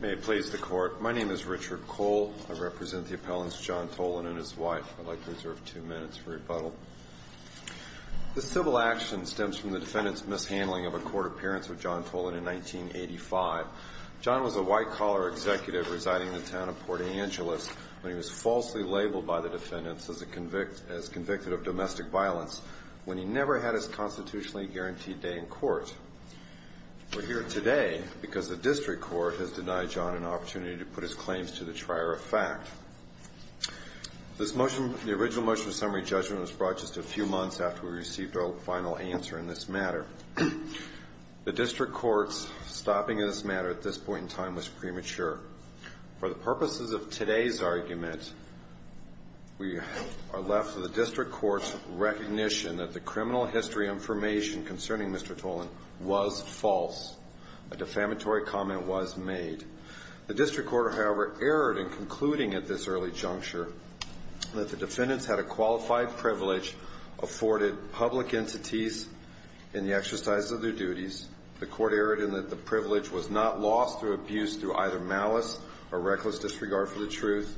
May it please the Court. My name is Richard Cole. I represent the appellants John Tolan and his wife. I'd like to reserve two minutes for rebuttal. This civil action stems from the defendant's mishandling of a court appearance with John Tolan in 1985. John was a white-collar executive residing in the town of Port Angeles when he was falsely labeled by the defendants as convicted of domestic violence, when he never had his constitutionally guaranteed day in court. We're here today because the District Court has denied John an opportunity to put his claims to the trier of fact. The original motion of summary judgment was brought just a few months after we received our final answer in this matter. The District Court's stopping of this matter at this point in time was premature. For the purposes of today's argument, we are left with the District Court's recognition that the criminal history information concerning Mr. Tolan was false. A defamatory comment was made. The District Court, however, erred in concluding at this early juncture that the defendants had a qualified privilege, afforded public entities in the exercise of their duties. The Court erred in that the privilege was not lost through abuse through either malice or reckless disregard for the truth.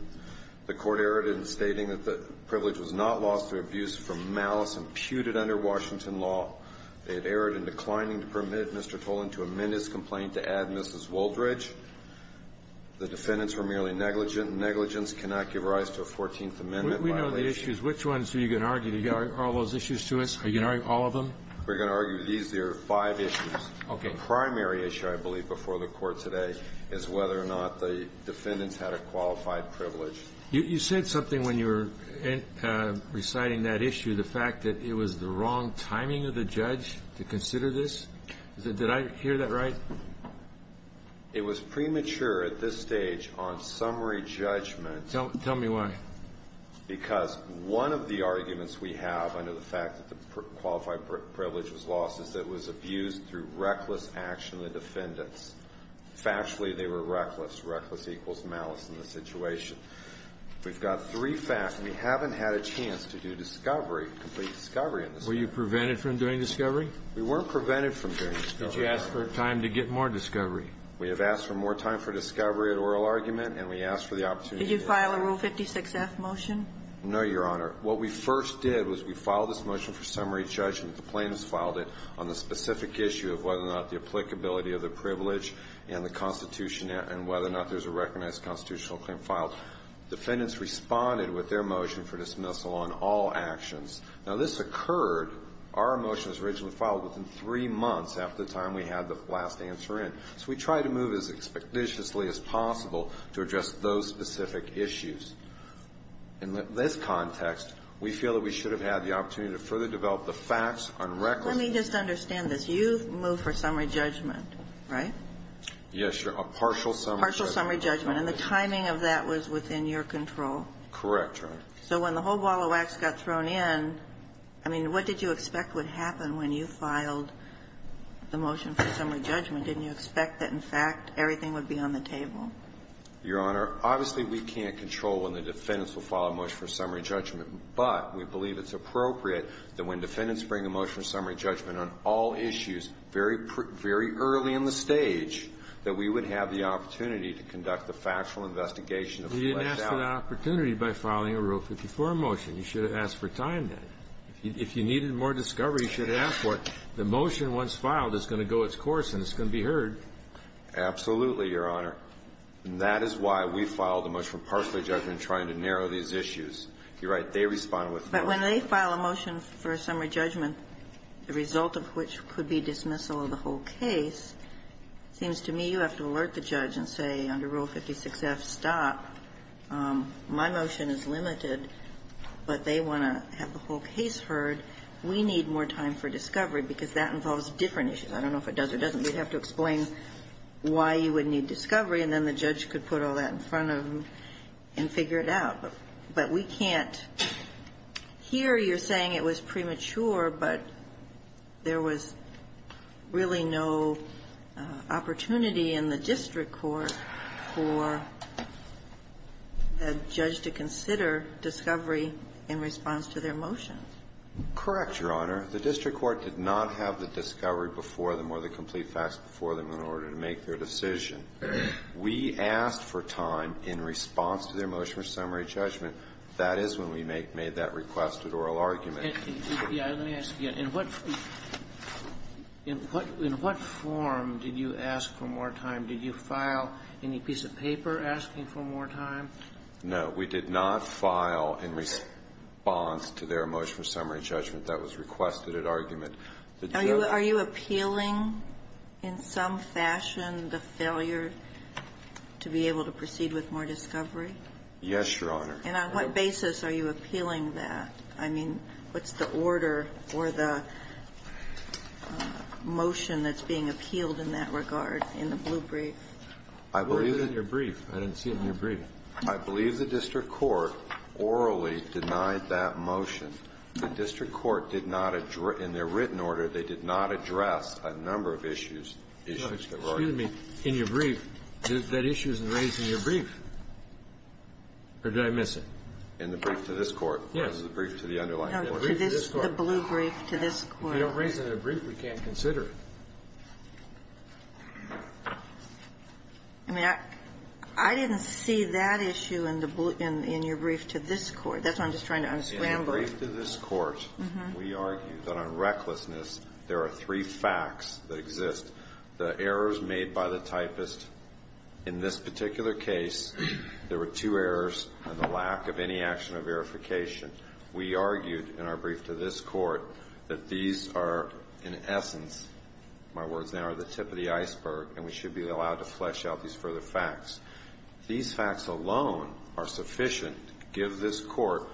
The Court erred in stating that the privilege was not lost through abuse from malice imputed under Washington law. It erred in declining to permit Mr. Tolan to amend his complaint to add Mrs. Woldridge. The defendants were merely negligent. Negligence cannot give rise to a Fourteenth Amendment violation. We know the issues. Which ones are you going to argue? Do you have all those issues to us? Are you going to argue all of them? We're going to argue these here five issues. Okay. The primary issue, I believe, before the Court today is whether or not the defendants had a qualified privilege. You said something when you were reciting that issue, the fact that it was the wrong timing of the judge to consider this. Did I hear that right? It was premature at this stage on summary judgment. Tell me why. Because one of the arguments we have under the fact that the qualified privilege was lost is that it was abused through reckless action of the defendants. Factually, they were reckless. Reckless equals malice in this situation. We've got three facts. We haven't had a chance to do discovery, complete discovery in this case. Were you prevented from doing discovery? We weren't prevented from doing discovery. Did you ask for time to get more discovery? We have asked for more time for discovery at oral argument, and we asked for the opportunity. Did you file a Rule 56F motion? No, Your Honor. What we first did was we filed this motion for summary judgment. The plaintiffs filed it on the specific issue of whether or not the applicability of the privilege and the Constitution and whether or not there's a recognized constitutional claim filed. Defendants responded with their motion for dismissal on all actions. Now, this occurred. Our motion was originally filed within three months after the time we had the last answer in. So we tried to move as expeditiously as possible to address those specific issues. In this context, we feel that we should have had the opportunity to further develop the facts on reckless. Let me just understand this. You moved for summary judgment, right? Yes, Your Honor. Partial summary judgment. Partial summary judgment. And the timing of that was within your control. Correct, Your Honor. So when the whole ball of wax got thrown in, I mean, what did you expect would happen when you filed the motion for summary judgment? Didn't you expect that, in fact, everything would be on the table? Your Honor, obviously, we can't control when the defendants will file a motion for summary judgment, but we believe it's appropriate that when defendants bring a motion for summary judgment on all issues very, very early in the stage, that we would have the opportunity to conduct the factual investigation of the fleshed-out. You didn't ask for that opportunity by filing a Rule 54 motion. You should have asked for time then. If you needed more discovery, you should have asked for it. The motion, once filed, is going to go its course and it's going to be heard. Absolutely, Your Honor. And that is why we filed the motion for partial judgment in trying to narrow these issues. You're right. They respond with the motion. But when they file a motion for summary judgment, the result of which could be dismissal of the whole case, it seems to me you have to alert the judge and say, under Rule 56-F, stop. My motion is limited, but they want to have the whole case heard. We need more time for discovery because that involves different issues. I don't know if it does or doesn't. You'd have to explain why you would need discovery and then the judge could put all that in front of them and figure it out. But we can't. Here you're saying it was premature, but there was really no opportunity in the district court for a judge to consider discovery in response to their motion. Correct, Your Honor. The district court did not have the discovery before them or the complete facts before them in order to make their decision. We asked for time in response to their motion for summary judgment. That is when we made that requested oral argument. Let me ask you, in what form did you ask for more time? Did you file any piece of paper asking for more time? No. We did not file in response to their motion for summary judgment. That was requested at argument. Are you appealing in some fashion the failure to be able to proceed with more discovery? Yes, Your Honor. And on what basis are you appealing that? I mean, what's the order or the motion that's being appealed in that regard in the blue brief? I believe it. It was in your brief. I didn't see it in your brief. I believe the district court orally denied that motion. The district court did not, in their written order, they did not address a number of issues. Excuse me. In your brief, that issue isn't raised in your brief. Or did I miss it? In the brief to this court. Yes. The brief to the underlying case. The blue brief to this court. If you don't raise it in the brief, we can't consider it. I mean, I didn't see that issue in your brief to this court. That's why I'm just trying to unscramble it. In the brief to this court, we argue that on recklessness, there are three facts that exist. The errors made by the typist in this particular case, there were two errors and the lack of any action of verification. We argued in our brief to this court that these are, in essence, my words now are the tip of the iceberg and we should be allowed to flesh out these further facts. These facts alone are sufficient to give this court.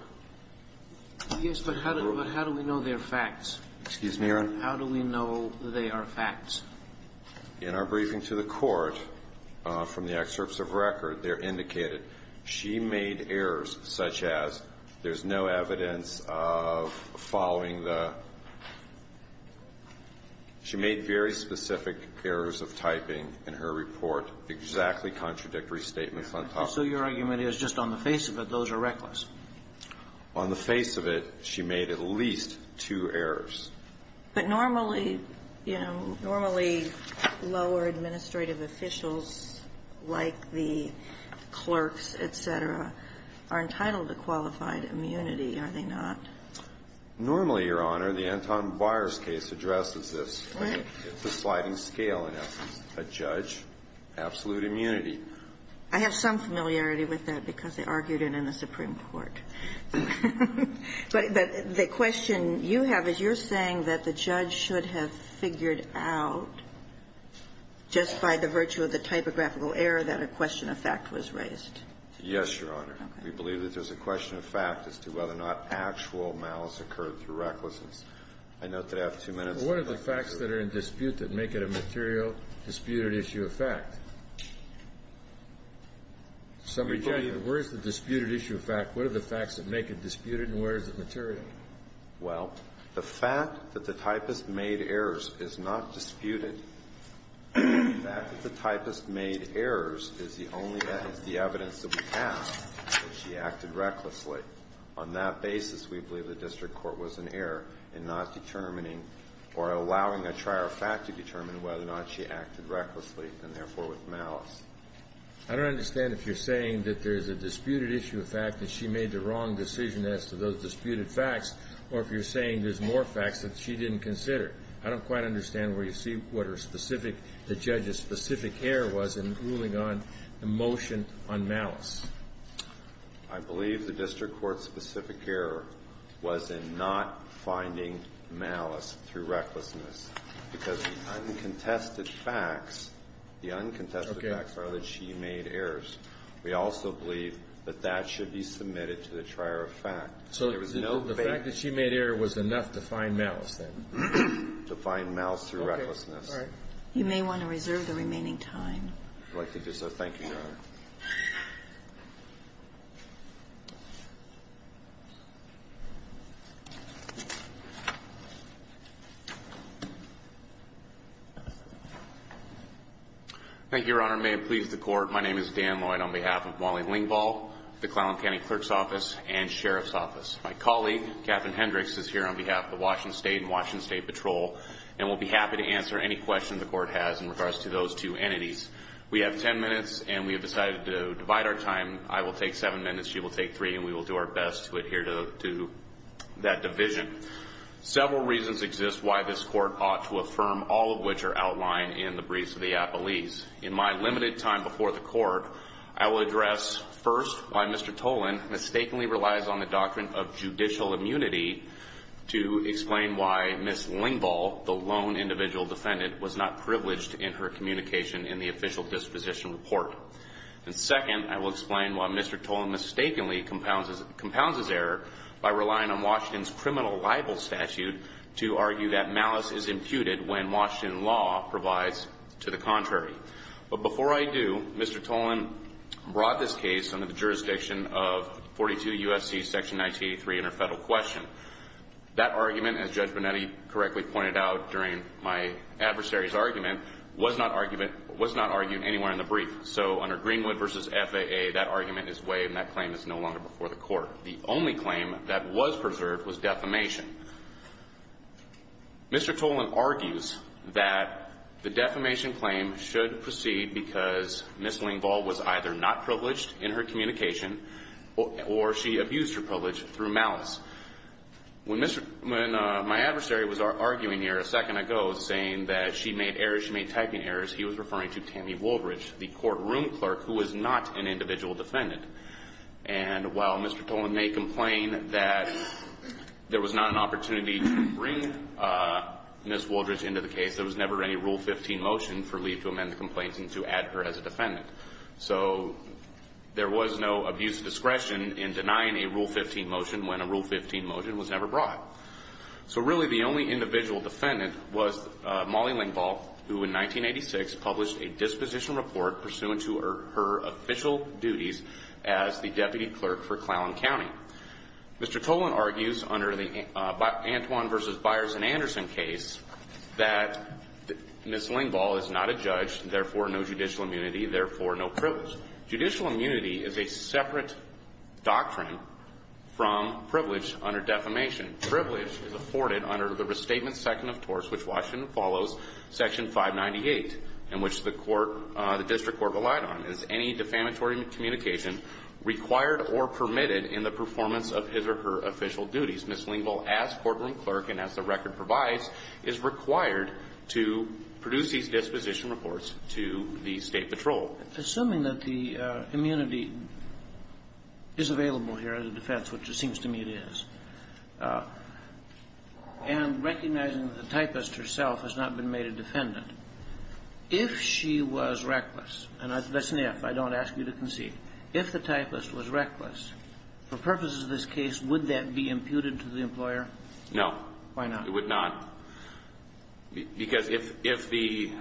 Yes, but how do we know they're facts? Excuse me, Your Honor. How do we know they are facts? In our briefing to the court, from the excerpts of record, they're indicated. She made errors such as there's no evidence of following the, she made very specific errors of typing in her report exactly contradictory statements on top of it. So your argument is just on the face of it, those are reckless? On the face of it, she made at least two errors. But normally, you know, normally lower administrative officials like the clerks, et cetera, are entitled to qualified immunity, are they not? Normally, Your Honor, the Anton Byers case addresses this. Right. It's a sliding scale in essence. A judge, absolute immunity. I have some familiarity with that because I argued it in the Supreme Court. But the question you have is you're saying that the judge should have figured out just by the virtue of the typographical error that a question of fact was raised. Yes, Your Honor. We believe that there's a question of fact as to whether or not actual malice occurred through recklessness. I note that I have two minutes. Well, what are the facts that are in dispute that make it a material disputed issue of fact? Where is the disputed issue of fact? What are the facts that make it disputed and where is it material? Well, the fact that the typist made errors is not disputed. The fact that the typist made errors is the only evidence that we have that she acted recklessly. On that basis, we believe the district court was in error in not determining or allowing a trier fact to determine whether or not she acted recklessly and, therefore, with malice. I don't understand if you're saying that there's a disputed issue of fact that she made the wrong decision as to those disputed facts, or if you're saying there's more facts that she didn't consider. I don't quite understand where you see what her specific, the judge's specific error was in ruling on the motion on malice. I believe the district court's specific error was in not finding malice through recklessness, because the uncontested facts, the uncontested facts are that she made errors. We also believe that that should be submitted to the trier of fact. There was no fake. So the fact that she made error was enough to find malice, then? To find malice through recklessness. Okay. All right. You may want to reserve the remaining time. I'd like to do so. Thank you, Your Honor. Thank you. Thank you, Your Honor. May it please the court. My name is Dan Lloyd on behalf of Wally Lingvall, the Clallam County Clerk's Office, and Sheriff's Office. My colleague, Captain Hendricks, is here on behalf of the Washington State and Washington State Patrol, and will be happy to answer any questions the court has in regards to those two entities. We have ten minutes, and we have decided to divide our time. I will take seven minutes, she will take three, and we will do our best to adhere to that division. Several reasons exist why this court ought to affirm all of which are outlined in the briefs of the appellees. In my limited time before the court, I will address first why Mr. Tolan mistakenly relies on the doctrine of judicial immunity to explain why Ms. Lingvall, the lone individual defendant, was not privileged in her communication in the official disposition report. And second, I will explain why Mr. Tolan mistakenly compounds his error by relying on Washington's criminal libel statute to argue that malice is imputed when Washington law provides to the contrary. But before I do, Mr. Tolan brought this case under the jurisdiction of 42 U.S.C. Section 1983 Interfederal Question. That argument, as Judge Bonetti correctly pointed out during my adversary's argument, was not argued anywhere in the brief. So under Greenwood v. FAA, that argument is waived and that claim is no longer before the court. The only claim that was preserved was defamation. Mr. Tolan argues that the defamation claim should proceed because Ms. Lingvall was either not privileged in her communication or she abused her privilege through malice. When my adversary was arguing here a second ago, saying that she made typing errors, he was referring to Tammy Wooldridge, the courtroom clerk who was not an individual defendant. And while Mr. Tolan may complain that there was not an opportunity to bring Ms. Wooldridge into the case, there was never any Rule 15 motion for Lee to amend the complaint and to add her as a defendant. So there was no abuse of discretion in denying a Rule 15 motion when a Rule 15 motion was never brought. So really the only individual defendant was Molly Lingvall, who in 1986 published a disposition report pursuant to her official duties as the deputy clerk for Clallan County. Mr. Tolan argues under the Antwon v. Byers and Anderson case that Ms. Lingvall is not a judge, therefore no judicial immunity, therefore no privilege. Judicial immunity is a separate doctrine from privilege under defamation. Privilege is afforded under the Restatement Second of Torts, which Washington follows, Section 598, in which the court – the district court relied on, is any defamatory communication required or permitted in the performance of his or her official duties. Ms. Lingvall, as courtroom clerk and as the record provides, is required to produce disposition reports to the State patrol. Assuming that the immunity is available here as a defense, which it seems to me it is, and recognizing that the typist herself has not been made a defendant, if she was reckless, and that's an if, I don't ask you to concede, if the typist was reckless, for purposes of this case, would that be imputed to the employer? No. Why not? It would not. Because if the –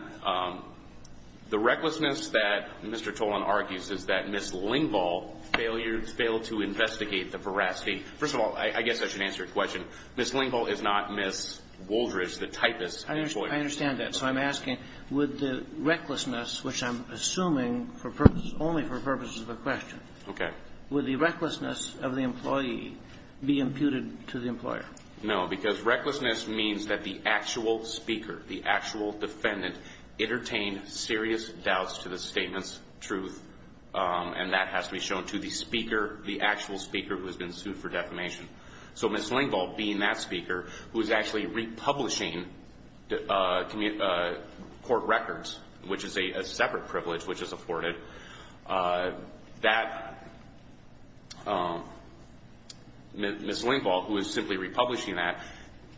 the recklessness that Mr. Tolan argues is that Ms. Lingvall failed to investigate the veracity. First of all, I guess I should answer your question. Ms. Lingvall is not Ms. Woldridge, the typist. I understand that. So I'm asking, would the recklessness, which I'm assuming only for purposes of a question, would the recklessness of the employee be imputed to the employer? No, because recklessness means that the actual speaker, the actual defendant, entertained serious doubts to the statement's truth, and that has to be shown to the speaker, the actual speaker who has been sued for defamation. So Ms. Lingvall being that speaker, who is actually republishing court records, which is a separate privilege which is afforded, that Ms. Lingvall, who is simply republishing that,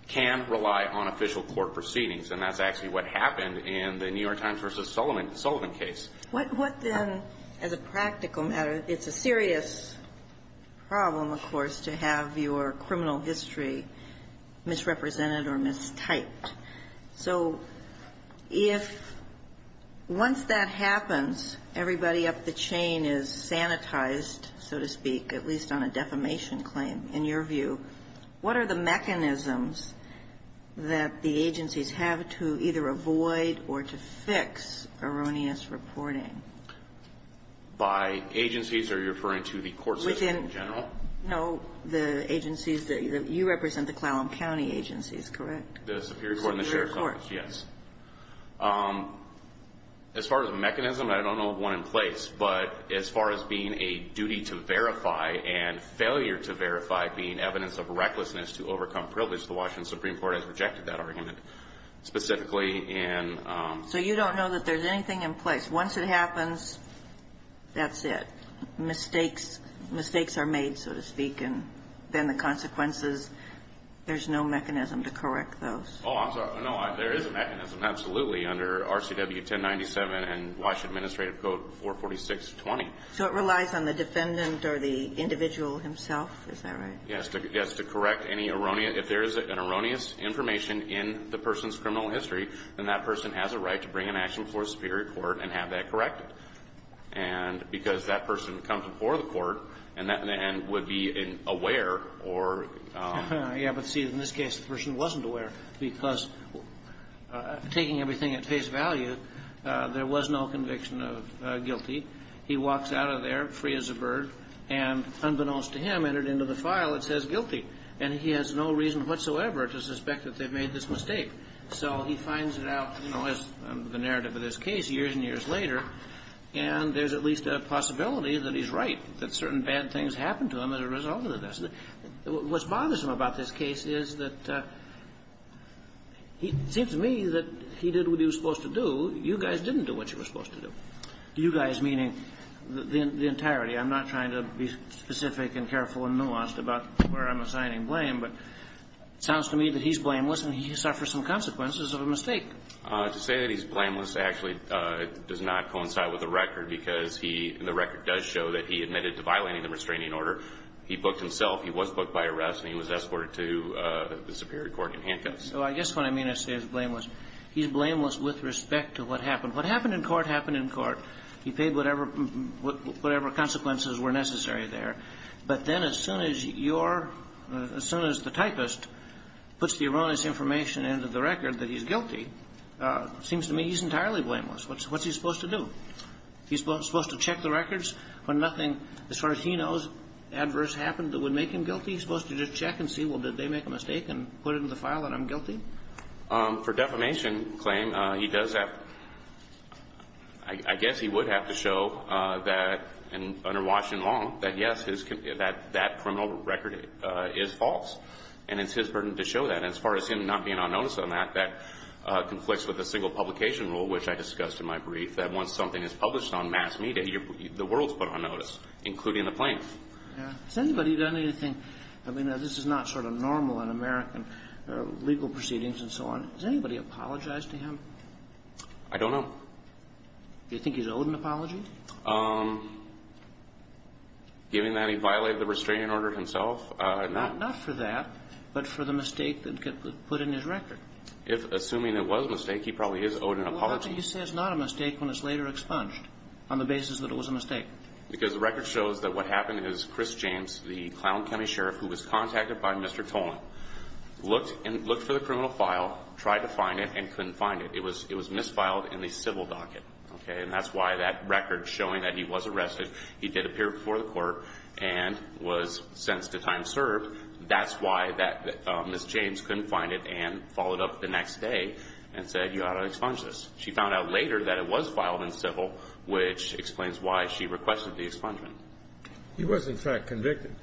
can rely on official court proceedings. And that's actually what happened in the New York Times v. Sullivan case. What then, as a practical matter, it's a serious problem, of course, to have your criminal history misrepresented or mistyped. So if once that happens, everybody up the chain is sanitized, so to speak, at least on a defamation claim, in your view, what are the mechanisms that the agencies have to either avoid or to fix erroneous reporting? By agencies, are you referring to the court system in general? No, the agencies that you represent, the Clallam County agencies, correct? The Superior Court and the Sheriff's Office, yes. As far as a mechanism, I don't know of one in place, but as far as being a duty to verify and failure to verify being evidence of recklessness to overcome privilege, the Washington Supreme Court has rejected that argument, specifically in ---- So you don't know that there's anything in place. Once it happens, that's it. Mistakes are made, so to speak, and then the consequences, there's no mechanism to correct those. Oh, I'm sorry. No, there is a mechanism, absolutely, under RCW 1097 and Washington Administrative Code 44620. So it relies on the defendant or the individual himself? Is that right? Yes, to correct any erroneous ---- if there is an erroneous information in the person's criminal history, then that person has a right to bring an action before the Superior Court and have that corrected. And because that person comes before the court and would be aware or ---- Yes, but see, in this case, the person wasn't aware because taking everything at face value, there was no conviction of guilty. He walks out of there free as a bird and, unbeknownst to him, entered into the file that says guilty. And he has no reason whatsoever to suspect that they've made this mistake. So he finds it out, you know, as the narrative of this case years and years later, and there's at least a possibility that he's right, that certain bad things happened to him as a result of this. What bothers him about this case is that it seems to me that he did what he was supposed to do. You guys didn't do what you were supposed to do. You guys, meaning the entirety. I'm not trying to be specific and careful and nuanced about where I'm assigning blame, but it sounds to me that he's blameless and he suffered some consequences of a mistake. To say that he's blameless actually does not coincide with the record because he ---- the record does show that he admitted to violating the restraining order. He booked himself. He was booked by arrest, and he was escorted to the Superior Court in handcuffs. So I guess what I mean to say is blameless. He's blameless with respect to what happened. What happened in court happened in court. He paid whatever consequences were necessary there. But then as soon as your ---- as soon as the typist puts the erroneous information into the record that he's guilty, it seems to me he's entirely blameless. What's he supposed to do? He's supposed to check the records when nothing, as far as he knows, adverse happened that would make him guilty? He's supposed to just check and see, well, did they make a mistake and put it in the file that I'm guilty? For defamation claim, he does that. I guess he would have to show that under Washington law that, yes, that criminal record is false. And it's his burden to show that. As far as him not being on notice on that, that conflicts with the single publication rule, which I discussed in my brief, that once something is published on mass media, the world's put on notice, including the plaintiff. Has anybody done anything ---- I mean, this is not sort of normal in American legal proceedings and so on. Has anybody apologized to him? I don't know. Do you think he's owed an apology? Given that he violated the restraining order himself, no. Not for that, but for the mistake that got put in his record. Assuming it was a mistake, he probably is owed an apology. Well, how can you say it's not a mistake when it's later expunged on the basis that it was a mistake? Because the record shows that what happened is Chris James, the Clown County Sheriff, who was contacted by Mr. Tolan, looked for the criminal file, tried to find it, and couldn't find it. It was misfiled in the civil docket. Okay? And that's why that record showing that he was arrested, he did appear before the court, and was sentenced to time served, that's why that Ms. James couldn't find it and followed up the next day and said, you ought to expunge this. She found out later that it was filed in civil, which explains why she requested the expungement. He was, in fact, convicted.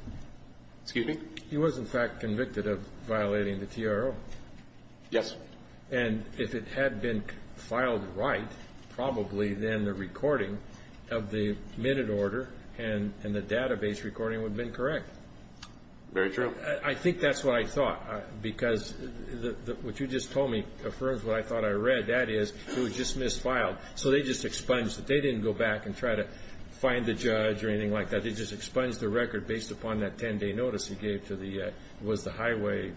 Excuse me? He was, in fact, convicted of violating the TRO. Yes. And if it had been filed right, probably then the recording of the minute order and the database recording would have been correct. Very true. I think that's what I thought, because what you just told me affirms what I thought I read. That is, it was just misfiled. So they just expunged it. They didn't go back and try to find the judge or anything like that. They just expunged the record based upon that 10-day notice he gave to the, it was the highway.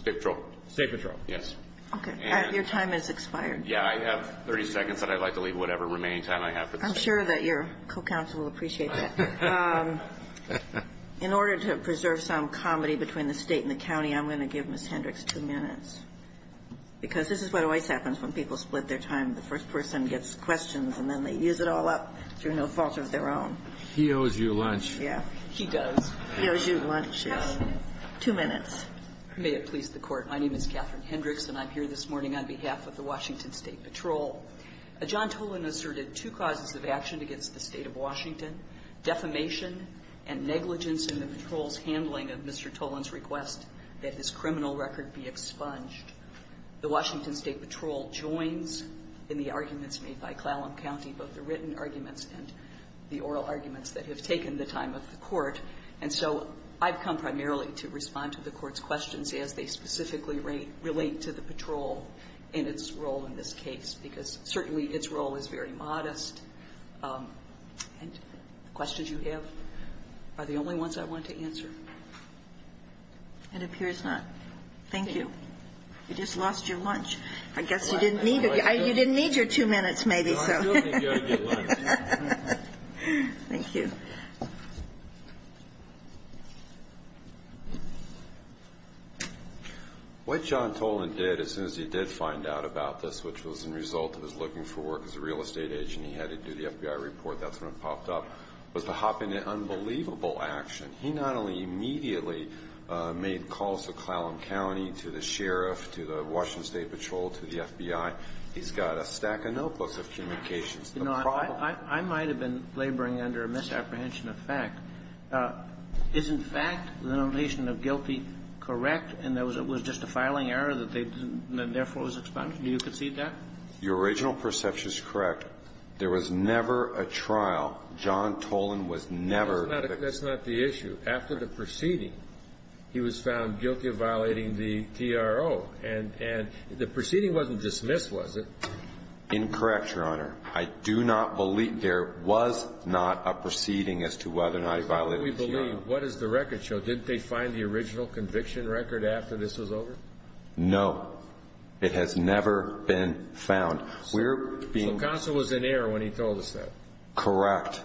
State patrol. State patrol. Yes. Okay. Your time has expired. Yeah, I have 30 seconds, and I'd like to leave whatever remaining time I have for this. I'm sure that your co-counsel will appreciate that. In order to preserve some comedy between the state and the county, I'm going to give Ms. Hendricks two minutes, because this is what always happens when people split their time. The first person gets questions, and then they use it all up through no fault of their own. He owes you lunch. Yeah. He does. He owes you lunch. Two minutes. May it please the Court. My name is Catherine Hendricks, and I'm here this morning on behalf of the Washington State Patrol. John Tolan asserted two causes of action against the State of Washington, defamation and negligence in the patrol's handling of Mr. Tolan's request that his criminal record be expunged. The Washington State Patrol joins in the arguments made by Clallam County, both the written arguments and the oral arguments that have taken the time of the Court. And so I've come primarily to respond to the Court's questions as they specifically relate to the patrol and its role in this case, because certainly its role is very modest, and the questions you have are the only ones I wanted to answer. It appears not. Thank you. You just lost your lunch. I guess you didn't need it. You didn't need your two minutes, maybe, so. No, I still think you ought to get lunch. Thank you. What John Tolan did, as soon as he did find out about this, which was a result of his looking for work as a real estate agent, he had to do the FBI report. That's when it popped up, was to hop into unbelievable action. He not only immediately made calls to Clallam County, to the sheriff, to the Washington State Patrol, to the FBI. He's got a stack of notebooks of communications. You know, I might have been laboring under a misapprehension of fact. Is, in fact, the notation of guilty correct, and it was just a filing error that they didn't do, and therefore it was expunged? Do you concede that? Your original perception is correct. There was never a trial. John Tolan was never the ---- That's not the issue. After the proceeding, he was found guilty of violating the TRO. And the proceeding wasn't dismissed, was it? Incorrect, Your Honor. I do not believe there was not a proceeding as to whether or not he violated the TRO. How can we believe? What does the record show? Didn't they find the original conviction record after this was over? No. It has never been found. We're being ---- So Console was in error when he told us that. Correct.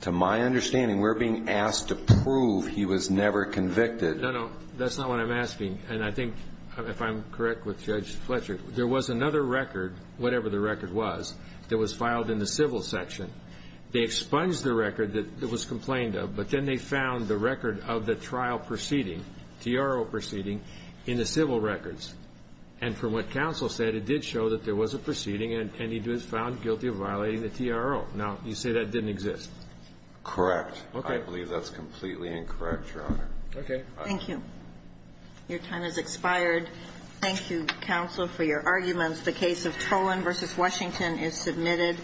But to my understanding, we're being asked to prove he was never convicted. No, no. That's not what I'm asking. And I think, if I'm correct with Judge Fletcher, there was another record, whatever the record was, that was filed in the civil section. They expunged the record that it was complained of, but then they found the record of the trial proceeding, TRO proceeding, in the civil records. And from what Console said, it did show that there was a proceeding, and he was found guilty of violating the TRO. Now, you say that didn't exist. Correct. Okay. I believe that's completely incorrect, Your Honor. Okay. Thank you. Your time has expired. Thank you, Counsel, for your arguments. The case of Tolan v. Washington is submitted.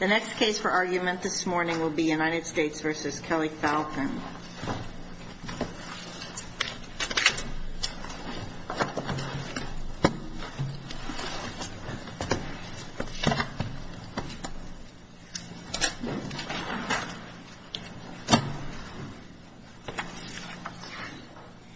The next case for argument this morning will be United States v. Kelly Falcon. Thank you, Your Honor.